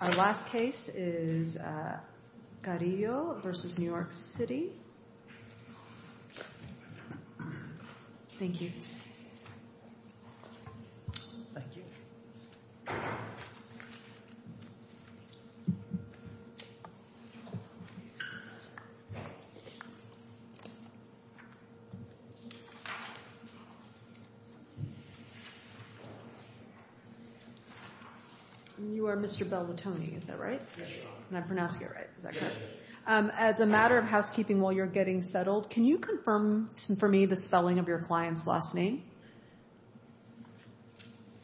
Our last case is Carrillo v. New York City. Thank you. Thank you. You are Mr. Bell Latone, is that right? Yes. And I'm pronouncing it right, is that correct? Yes. As a matter of housekeeping while you're getting settled, can you confirm for me the spelling of your client's last name?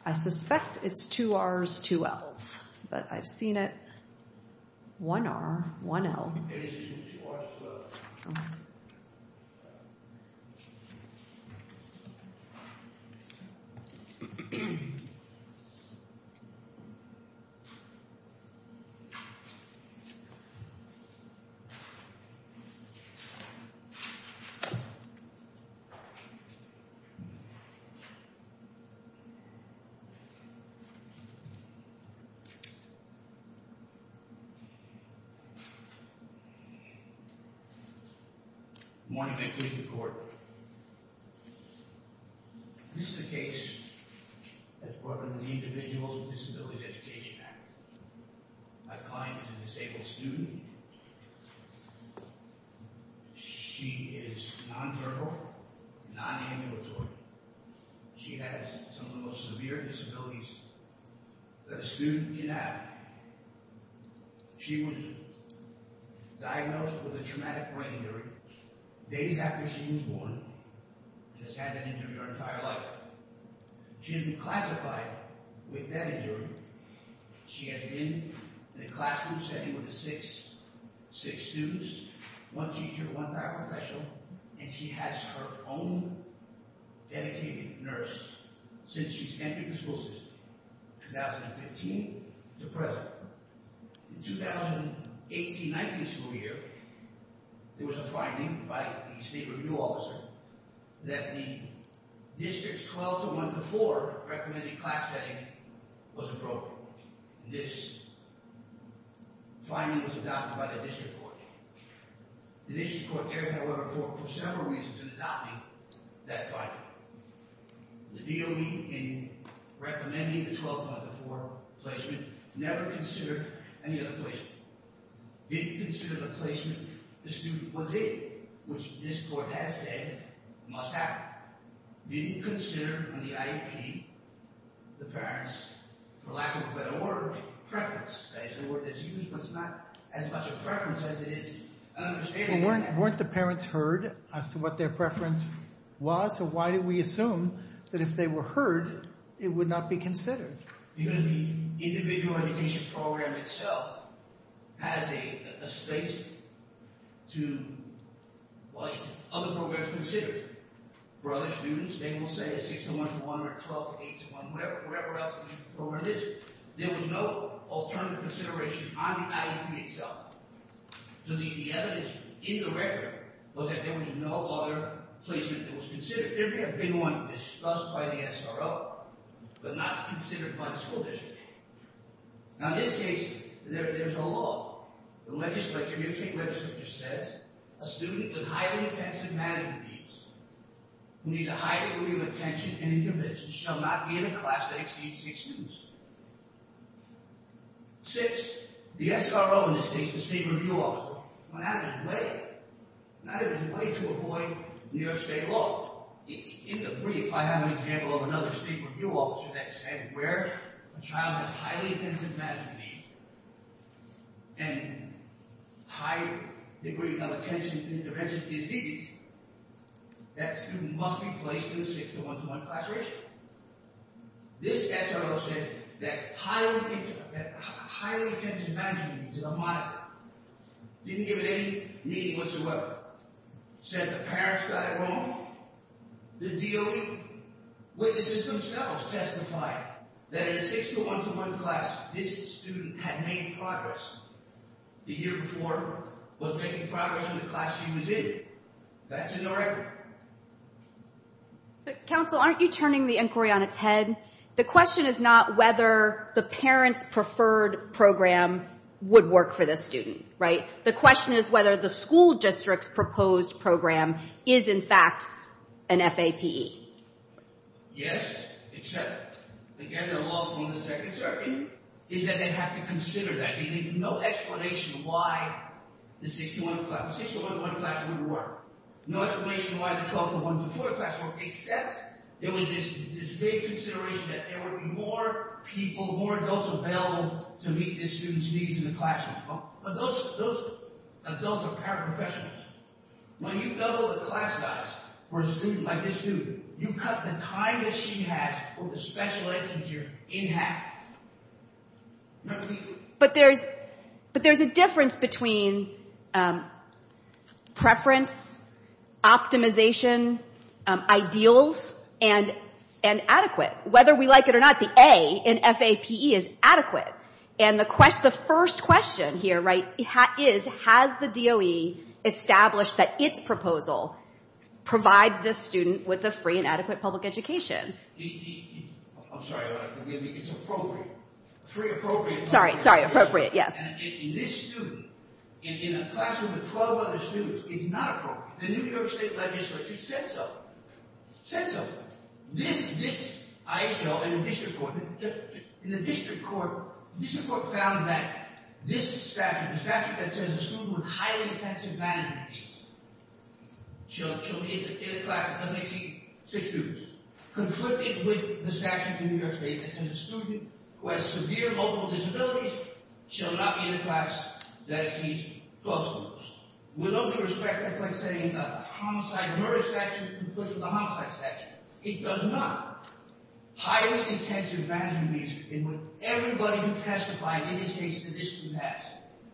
I suspect it's two Rs, two Ls. But I've seen it, one R, one L. Good morning. May it please the court. This is a case that's part of the Individuals with Disabilities Education Act. My client is a disabled student. She is non-verbal, non-ambulatory. She has some of the most severe disabilities that a student can have. She was diagnosed with a traumatic brain injury days after she was born and has had that injury her entire life. She has been classified with that injury. She has been in a classroom setting with six students, one teacher, one paraprofessional, and she has her own dedicated nurse since she's entered the school system, 2015 to present. In the 2018-19 school year, there was a finding by the state review officer that the district's 12-1-4 recommended class setting was appropriate. This finding was adopted by the district court. The district court, however, for several reasons in adopting that finding. The DOD in recommending the 12-1-4 placement never considered any other placement. Didn't consider the placement the student was in, which this court has said must happen. Didn't consider in the IEP the parents, for lack of a better word, preference. That's a word that's used, but it's not as much a preference as it is an understanding. Well, weren't the parents heard as to what their preference was? So why did we assume that if they were heard, it would not be considered? Because the individual education program itself has a space to what other programs consider. For other students, they will say a 6-1-1 or 12-8-1, whatever else the program is. There was no alternative consideration on the IEP itself. So the evidence in the record was that there was no other placement that was considered. There may have been one discussed by the SRO, but not considered by the school district. Now, in this case, there's a law. The New York State legislature says, a student with highly intensive management needs, who needs a high degree of attention and intervention, shall not be in a class that exceeds six students. Six, the SRO, in this case, the state review officer, went out of his way, went out of his way to avoid New York State law. In the brief, I have an example of another state review officer that said where a child has highly intensive management needs and high degree of attention and intervention needs, that student must be placed in a 6-1-1 class ratio. This SRO said that highly intensive management needs is a moniker. Didn't give it any meaning whatsoever. Said the parents got it wrong. The DOE witnesses themselves testified that in a 6-1-1 class, this student had made progress. The year before, was making progress in the class he was in. That's in their record. Counsel, aren't you turning the inquiry on its head? The question is not whether the parent's preferred program would work for this student, right? The question is whether the school district's proposed program is, in fact, an FAPE. Yes, except, again, the law is that they have to consider that. There's no explanation why the 6-1-1 class wouldn't work. No explanation why the 12-1-1 class wouldn't work, except there was this vague consideration that there would be more people, more adults available to meet this student's needs in the classroom. But those adults are paraprofessionals. When you double the class size for a student like this dude, you cut the time that she has for the special ed teacher in half. But there's a difference between preference, optimization, ideals, and adequate. Whether we like it or not, the A in FAPE is adequate. And the first question here, right, is has the DOE established that its proposal provides this student with a free and adequate public education? I'm sorry about that. It's appropriate. Free, appropriate, public education. Sorry, sorry. Appropriate, yes. And this student, in a classroom with 12 other students, is not appropriate. The New York state legislature said so. Said so. This, I tell in the district court, the district court found that this statute, the statute that says a student with highly intensive management needs shall be in a class that doesn't exceed six students, conflicted with the statute in New York state that says a student who has severe local disabilities shall not be in a class that exceeds 12 students. With all due respect, that's like saying a homicide murder statute conflicts with a homicide statute. It does not. Highly intensive management needs in what everybody who testified in this case to this group has.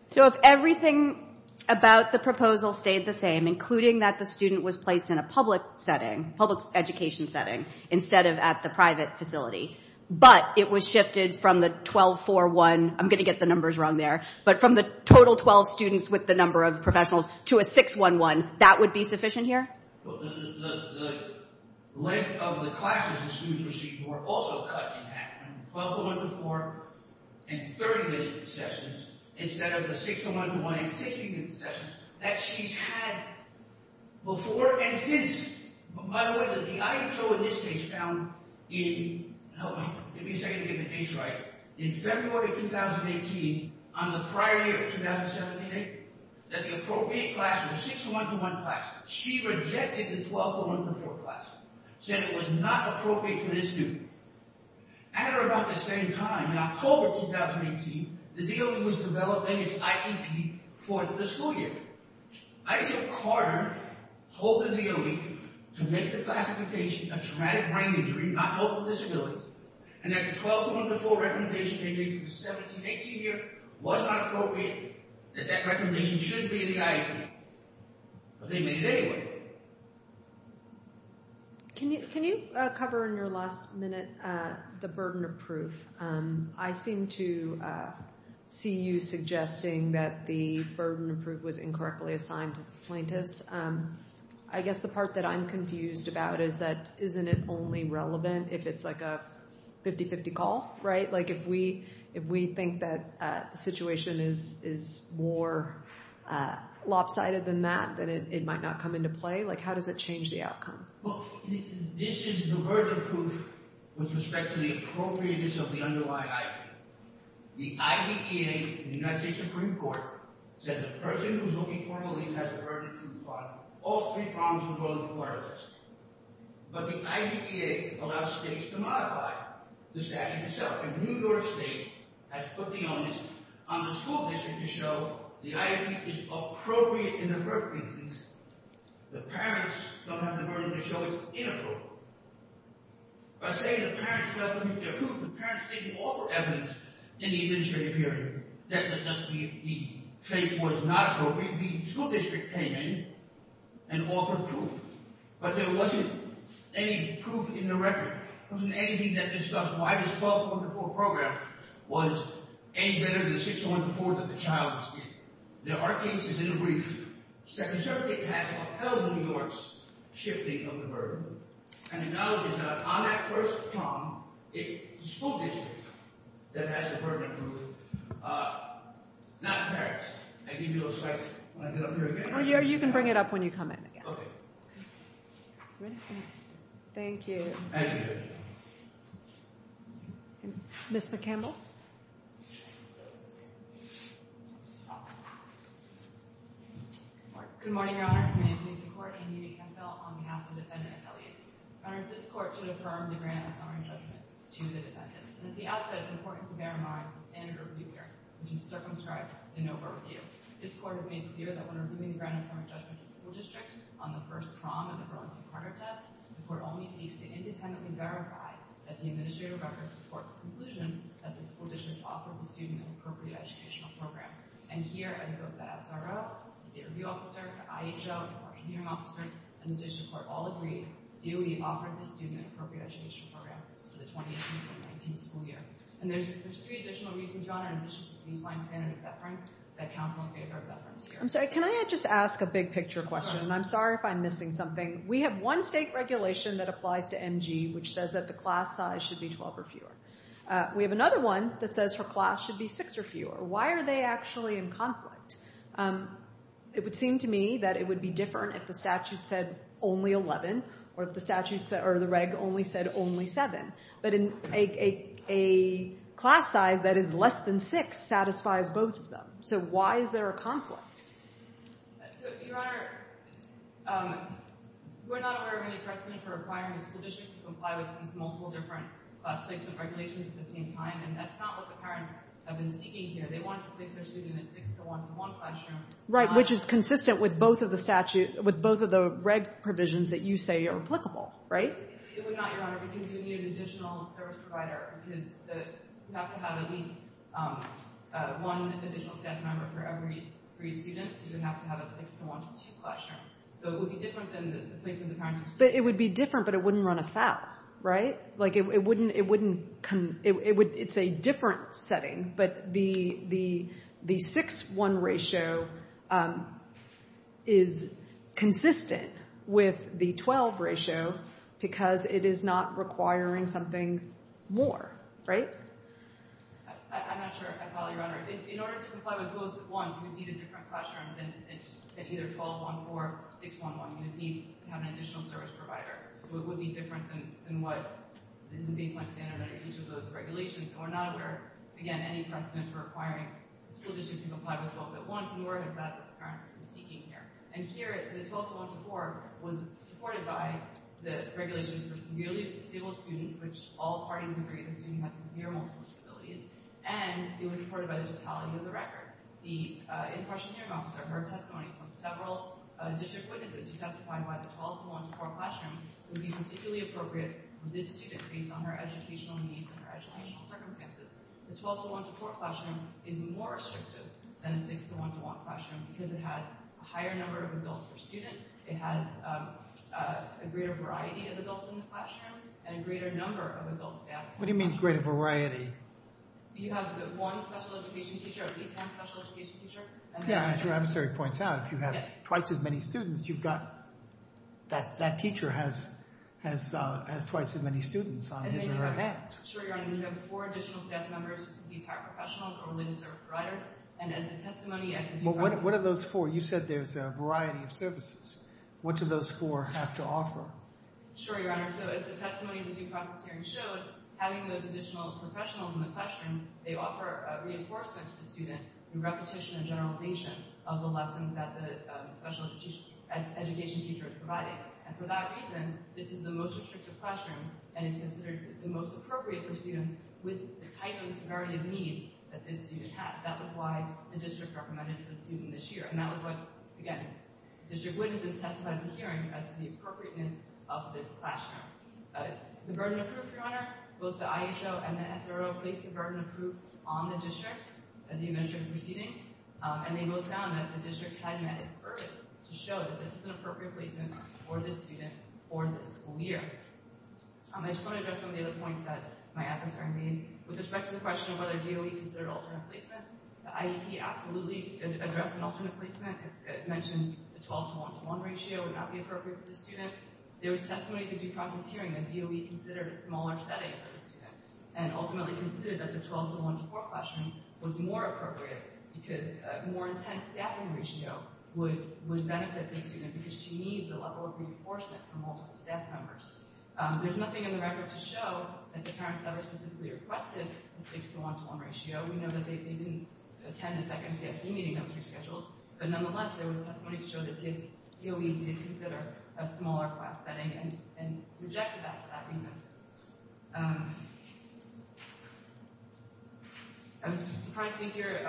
So if everything about the proposal stayed the same, including that the student was placed in a public setting, public education setting, instead of at the private facility, but it was shifted from the 12, 4, 1, I'm going to get the numbers wrong there, but from the total 12 students with the number of professionals to a 6, 1, 1, that would be sufficient here? The length of the classes the student received were also cut in half. 12, 1, 2, 4, and 30-minute sessions instead of the 6, 1, 1, and 60-minute sessions that she's had before and since. By the way, the IHO in this case found in February 2018 on the prior year, 2017-18, that the appropriate class she rejected the 12, 4, 1, 4 class, said it was not appropriate for this student. At about the same time, in October 2018, the DOE was developing its IEP for the school year. Isaac Carter told the DOE to make the classification of traumatic brain injury, not open disability, and that the 12, 4, 1, 4 recommendation they made for the 17-18 year was not appropriate, that that recommendation shouldn't be in the IEP. But they made it anyway. Can you cover in your last minute the burden of proof? I seem to see you suggesting that the burden of proof was incorrectly assigned to the plaintiffs. I guess the part that I'm confused about is that isn't it only relevant if it's like a 50-50 call, right? Like if we think that the situation is more lopsided than that, then it might not come into play. Like how does it change the outcome? This is the burden of proof with respect to the appropriateness of the underlying IEP. The IDEA, the United States Supreme Court, said the person who's looking for relief has a burden of proof on all three prongs of the burden of proof. But the IDEA allows states to modify the statute itself. And New York State has put the onus on the school district to show the IEP is appropriate in the first instance. The parents don't have the burden to show it's inappropriate. By saying the parents don't have the burden of proof, the parents didn't offer evidence in the administrative hearing that the state was not appropriate. The school district came in and offered proof. But there wasn't any proof in the record. There wasn't anything that discussed why this 1204 program was any better than 6104 that the child was given. Now, our case is in a brief. The circuit has upheld New York's shifting of the burden. And the knowledge is that on that first prong, it's the school district that has the burden of proof, not the parents. I gave you those slides. Do you want to get up here again? You can bring it up when you come in again. OK. Ready? Thank you. Thank you. Ms. McCampbell? Good morning, Your Honors. My name is Lisa Corky. I'm here to be counsel on behalf of the defendant, Elias. Your Honors, this court should affirm the grant of summary judgment to the defendants. And at the outset, it's important to bear in mind the standard of review here, which is circumscribed in overview. This court has made clear that when the court only seeks to independently verify that the administrative records support the conclusion that the school district offered the student an appropriate educational program. And here, as both the SRO, the state review officer, the IHO, and the court hearing officer, and the district court all agree, DOE offered the student an appropriate education program for the 2018-2019 school year. And there's three additional reasons, Your Honor, in addition to the baseline standard of deference that counsel in favor of deference here. I'm sorry. Can I just ask a big picture question? And I'm sorry if I'm missing something. We have one state regulation that applies to MG, which says that the class size should be 12 or fewer. We have another one that says her class should be six or fewer. Why are they actually in conflict? It would seem to me that it would be different if the statute said only 11, or if the statutes or the reg only said only seven. But a class size that is less than six satisfies both of them. So why is there a conflict? So, Your Honor, we're not aware of any precedent for requiring a school district to comply with these multiple different class placement regulations at the same time. And that's not what the parents have been seeking here. They want to place their student in a six-to-one-to-one classroom. Right, which is consistent with both of the statute, with both of the reg provisions that you say are applicable, right? It would not, Your Honor, because you would need an additional service provider, because you have to have at least one additional staff member for every three students. You would have to have a six-to-one-to-two classroom. So it would be different than the placement the parents were seeking. But it would be different, but it wouldn't run afoul, right? It's a different setting. But the six-to-one ratio is consistent with the 12 ratio, because it is not requiring something more, right? I'm not sure if I follow you, Your Honor. In order to comply with both at once, you would need a different classroom than either 12.1.4 or 6.1.1. You would need to have an additional service provider. So it would be different than what is the baseline standard under each of those regulations. And we're not aware, again, any precedent for requiring school districts to comply with both at once, nor has that what the parents have been seeking here. And here, the 12.1.4 was supported by the regulations for severely disabled students, which all parties agree the student has severe multiple disabilities. And it was supported by the totality of the record. The in-question hearing officer heard testimony from several district witnesses who testified why the 12.1.4 classroom would be particularly appropriate for this student, based on her educational needs and her educational circumstances. The 12.1.4 classroom is more restrictive than a 6.1.1 classroom, because it has a higher number of adults per student. It has a greater variety of adults in the classroom and a greater number of adults. What do you mean greater variety? Yeah, as your adversary points out, if you have twice as many students, that teacher has twice as many students on his or her hands. Well, what are those four? You said there's a variety of services. What do those four have to offer? Having those additional professionals in the classroom, they offer reinforcement to the student in repetition and generalization of the lessons that the special education teacher is providing. And for that reason, this is the most restrictive classroom and is considered the most appropriate for students with the type and severity of needs that this student had. That was why the district recommended for the student this year. And that was what, again, district witnesses testified at the hearing as to the appropriateness of this classroom. The burden of proof, Your Honor, both the IHO and the SRO placed the burden of proof on the district at the administrative proceedings. And they wrote down that the district had met its burden to show that this was an appropriate placement for this student for this school year. I just want to address some of the other points that my adversary made. With respect to the question of whether DOE considered alternate placements, the IEP absolutely addressed an alternate placement. It mentioned the 12-to-1-to-1 ratio would not be appropriate for the student. There was testimony at the due process hearing that DOE considered a smaller setting for this student and ultimately concluded that the 12-to-1-to-4 classroom was more appropriate because a more intense staffing ratio would benefit this student because she needs the level of reinforcement for multiple staff members. There's nothing in the record to show that the parents that were specifically requested the 6-to-1-to-1 ratio. We know that they didn't attend a second CSE meeting that was rescheduled. But nonetheless, there was testimony to show that DOE did consider a smaller class setting and rejected that for that reason. I was surprised to hear,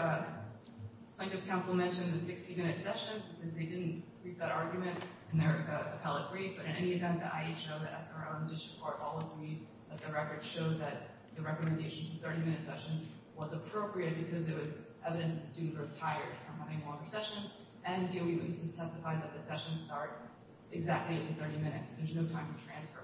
I guess Council mentioned the 60-minute session. They didn't read that argument in their appellate brief. But in any event, the IHO, the SRO, and the district court all agreed that the record showed that the recommendation for 30-minute sessions was appropriate because there was evidence that the student was tired from having a longer session. And DOE witnesses testified that the sessions start exactly in 30 minutes. There's no time to transfer.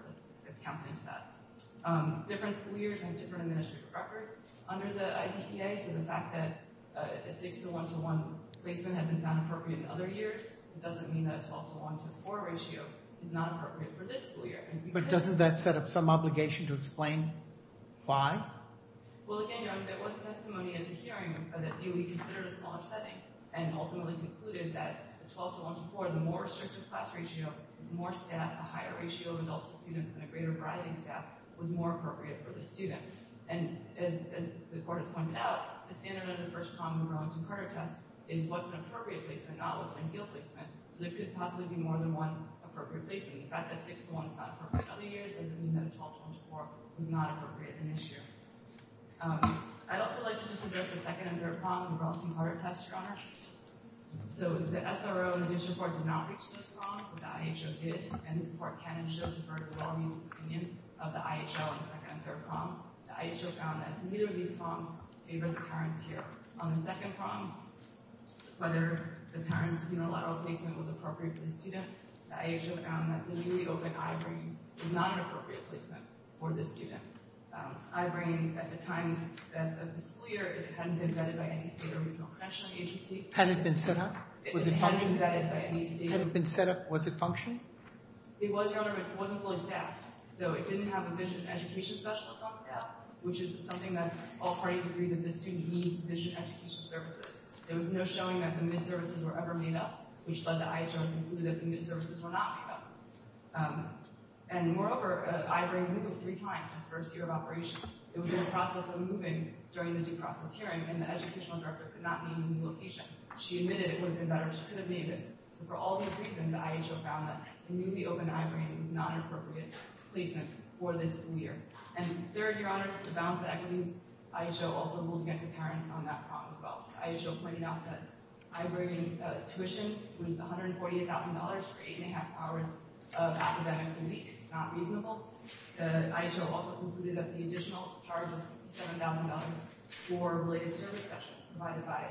It's countenance to that. Different school years have different administrative records under the IPPA. So the fact that a 6-to-1-to-1 placement had been found appropriate in other years doesn't mean that a 12-to-1-to-4 ratio is not appropriate for this school year. But doesn't that set up some obligation to explain why? Well, again, there was testimony in the hearing that DOE considered a small upsetting and ultimately concluded that a 12-to-1-to-4, the more restrictive class ratio, the more staff, the higher ratio of adults to students, and a greater variety of staff was more appropriate for the student. And as the court has pointed out, the standard under the first common growing-to-carter test is what's an appropriate placement, not what's an ideal placement. So there could possibly be more than one appropriate placement. The fact that 6-to-1 is not appropriate in other years doesn't mean that a 12-to-1-to-4 was not appropriate in this year. I'd also like to just address the second and third prong of the growing-to-carter test, Your Honor. So the SRO and the district court did not reach those prongs, but the IHO did. And this court can and should defer to Wally's opinion of the IHL in the second and third prong. The IHO found that neither of these prongs favored the parents here. On the second prong, whether the parent's unilateral placement was appropriate for the student, the IHO found that the newly-opened I-brain was not an appropriate placement for the student. I-brain, at the time of the school year, it hadn't been vetted by any state or regional convention agency. Had it been set up? Was it functioned? It hadn't been vetted by any state. Had it been set up? Was it functioned? It was, Your Honor, but it wasn't fully staffed. So it didn't have a vision education specialist on staff, which is something that all parties agree that the student needs vision education services. There was no showing that the missed services were ever made up, which led the IHO to conclude that the missed services were not made up. And moreover, I-brain moved three times its first year of operation. It was in the process of moving during the due process hearing, and the educational director could not name any location. She admitted it would have been better. She could have named it. So for all those reasons, the IHO found that the newly-opened I-brain was not an appropriate placement for this school year. And third, Your Honor, to balance the equities, IHO also ruled against the parents on that prong as well. IHO pointed out that I-brain tuition was $148,000 for eight and a half hours of academics a week. Not reasonable. The IHO also concluded that the additional charge of $7,000 for related service session provided by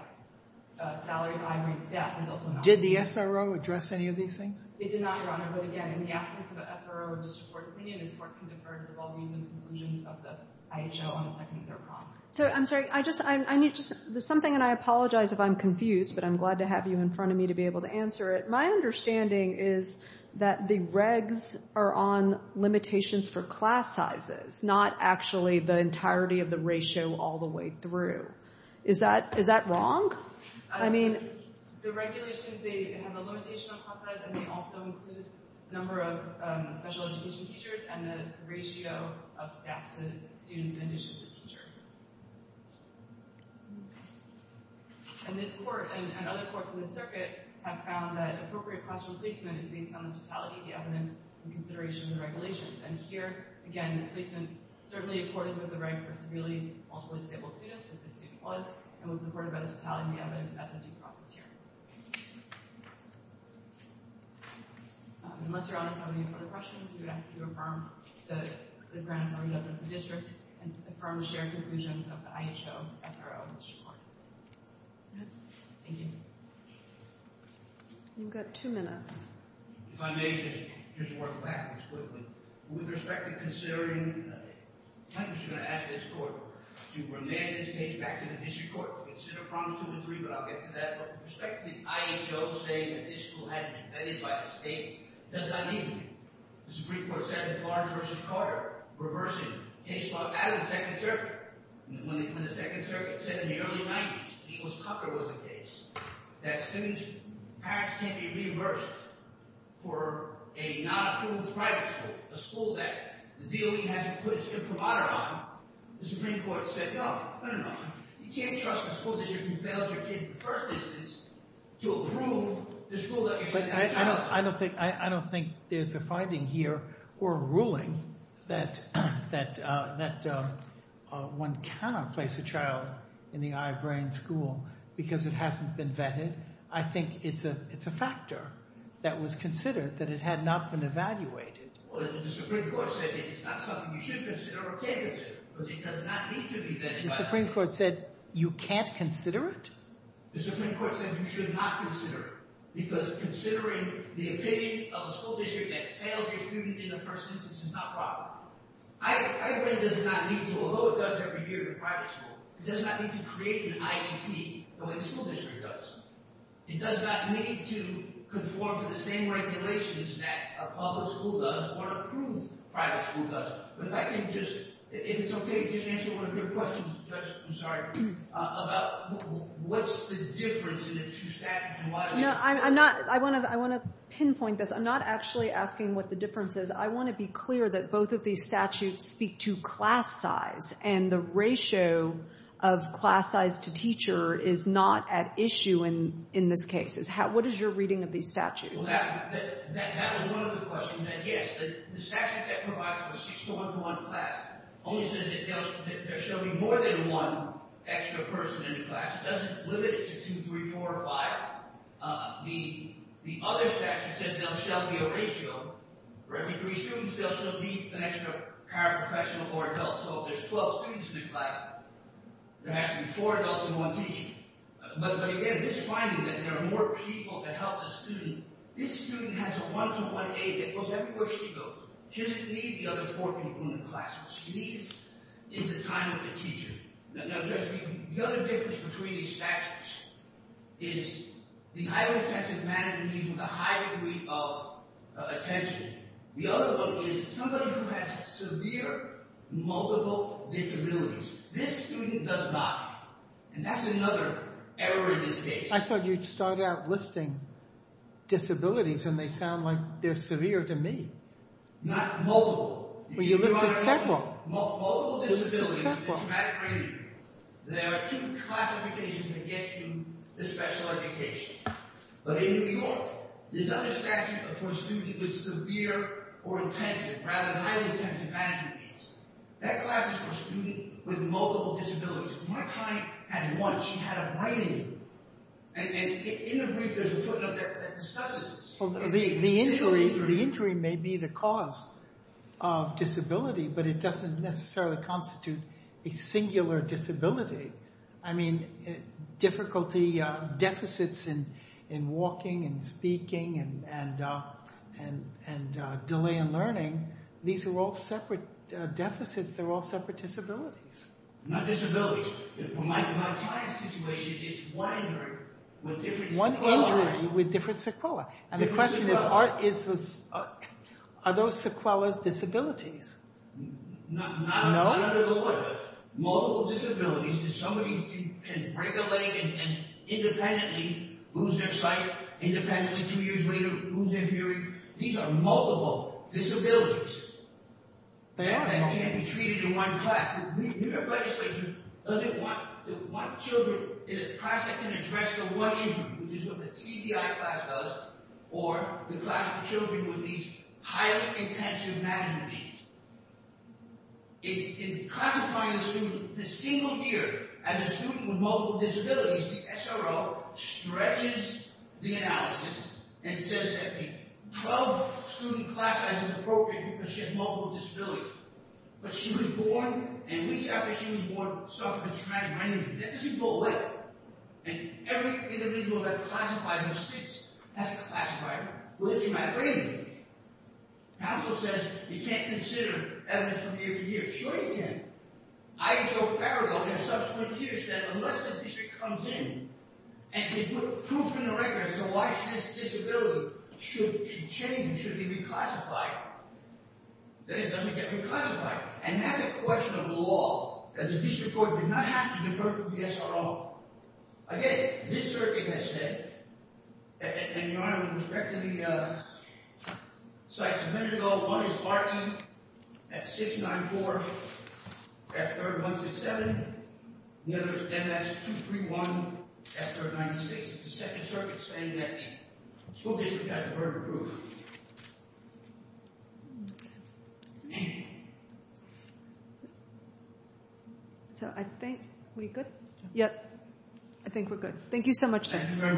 a salary of I-brain staff is also not reasonable. Did the SRO address any of these things? It did not, Your Honor. But again, in the absence of an SRO or district court opinion, this court can defer to all reasoned conclusions of the IHO on the second year prong. So I'm sorry. There's something, and I apologize if I'm confused, but I'm glad to have you in front of me to be able to answer it. My understanding is that the regs are on limitations for class sizes, not actually the entirety of the ratio all the way through. Is that wrong? I mean, the regulations, they have a limitation on class size, and they also include the number of special education teachers and the ratio of staff to students And this court and other courts in the circuit have found that appropriate classroom placement is based on the totality of the evidence and consideration of the regulations. And here, again, placement certainly accorded with the right for severely multiple disabled students if the student was, and was supported by the totality of the evidence at the due process hearing. Unless Your Honor has any further questions, we would ask that you affirm the grounds on the death of the district and affirm the shared conclusions of the IHO, SRO, and district court. Thank you. You've got two minutes. If I may, just to work backwards quickly. With respect to considering, I'm just going to ask this court to remand this case back to the district court to consider problems two and three, but I'll get to that. But with respect to the IHO saying that this school hadn't been vetted by the state, it does not need to be. The Supreme Court said in Florence v. Carter, reversing case law out of the Second Circuit, when the Second Circuit said in the early 90s he was tougher with the case, that students' parents can't be reimbursed for a not approved private school, a school that the DOE hasn't put its imprimatur on, the Supreme Court said, no, no, no, no. You can't trust a school district who failed your kid in the first instance to approve the school that you're setting up. I don't think there's a finding here or a ruling that one cannot place a child in the I-Brain school because it hasn't been vetted. I think it's a factor that was considered, that it had not been evaluated. Well, the Supreme Court said it's not something you should consider or can consider, because it does not need to be vetted by the state. The Supreme Court said you can't consider it? The Supreme Court said you should not consider it, because considering the opinion of a school district that failed your student in the first instance is not proper. I-Brain does not need to. Although it does every year in private school, it does not need to create an IEP the way the school district does. It does not need to conform to the same regulations that a public school does or approve private school does. But if I can just, if it's OK, just answer one of your questions, Judge, I'm sorry, about what's the difference in the two statutes and why they're different. No, I'm not. I want to pinpoint this. I'm not actually asking what the difference is. I want to be clear that both of these statutes speak to class size. And the ratio of class size to teacher is not at issue in this case. What is your reading of these statutes? Well, that was one of the questions. And yes, the statute that provides for a 6 to 1 to 1 class only says that there shall be more than one extra person in the class. It doesn't limit it to 2, 3, 4, or 5. The other statute says there shall be a ratio. For every three students, there shall be an extra paraprofessional or adult. So if there's 12 students in the class, there has to be four adults and one teacher. But again, this finding that there are more people to help the student, this student has a 1 to 1 aid that goes everywhere she goes. She doesn't need the other four people in the class. What she needs is the time with the teacher. Now, Judge, the other difference between these statutes is the highly intensive management and the high degree of attention. The other one is somebody who has severe multiple disabilities. This student does not. And that's another error in this case. I thought you'd start out listing disabilities, and they sound like they're severe to me. Not multiple. Well, you listed several. Multiple disabilities. Multiple. There are two classifications that get you the special education. But in New York, this other statute for a student with severe or rather highly intensive management needs, that class is for a student with multiple disabilities. My client had one. She had a brain injury. And in the brief, there's a footnote that discusses this. Well, the injury may be the cause of disability, but it doesn't necessarily constitute a singular disability. I mean, deficits in walking and speaking and delay in learning, these are all separate deficits. They're all separate disabilities. Not disabilities. My client's situation is one injury with different sequela. One injury with different sequela. And the question is, are those sequelas disabilities? Not under the law. Multiple disabilities is somebody who can break a leg and independently lose their sight, independently two years later lose their hearing. These are multiple disabilities. They are multiple. They can't be treated in one class. New York legislature doesn't want children in a class that can address the one injury, which is what the TBI class does, or the class of children with these highly intensive management needs. In classifying a student, the single year as a student with multiple disabilities, the SRO stretches the analysis and says that a 12-student class size is appropriate because she has multiple disabilities. But she was born, and weeks after she was born, suffered a traumatic brain injury. That doesn't go away. And every individual that's classified with six has a classified with a traumatic brain injury. Counsel says you can't consider evidence from year to year. Sure you can. I, Joe Farrell, in subsequent years said, unless the district comes in and can put proof in the record as to why this disability should change and should be reclassified, then it doesn't get reclassified. And that's a question of law, that the district court did not have to defer to the SRO. Again, this circuit has said, and your Honor, in respect to the sites a minute ago, one is Barton at 694, that third one's at 7. The other is MS-231 at 396. It's the second circuit saying that the school district got the word approved. So I think we're good? I think we're good. Thank you so much, sir. Thank you very much.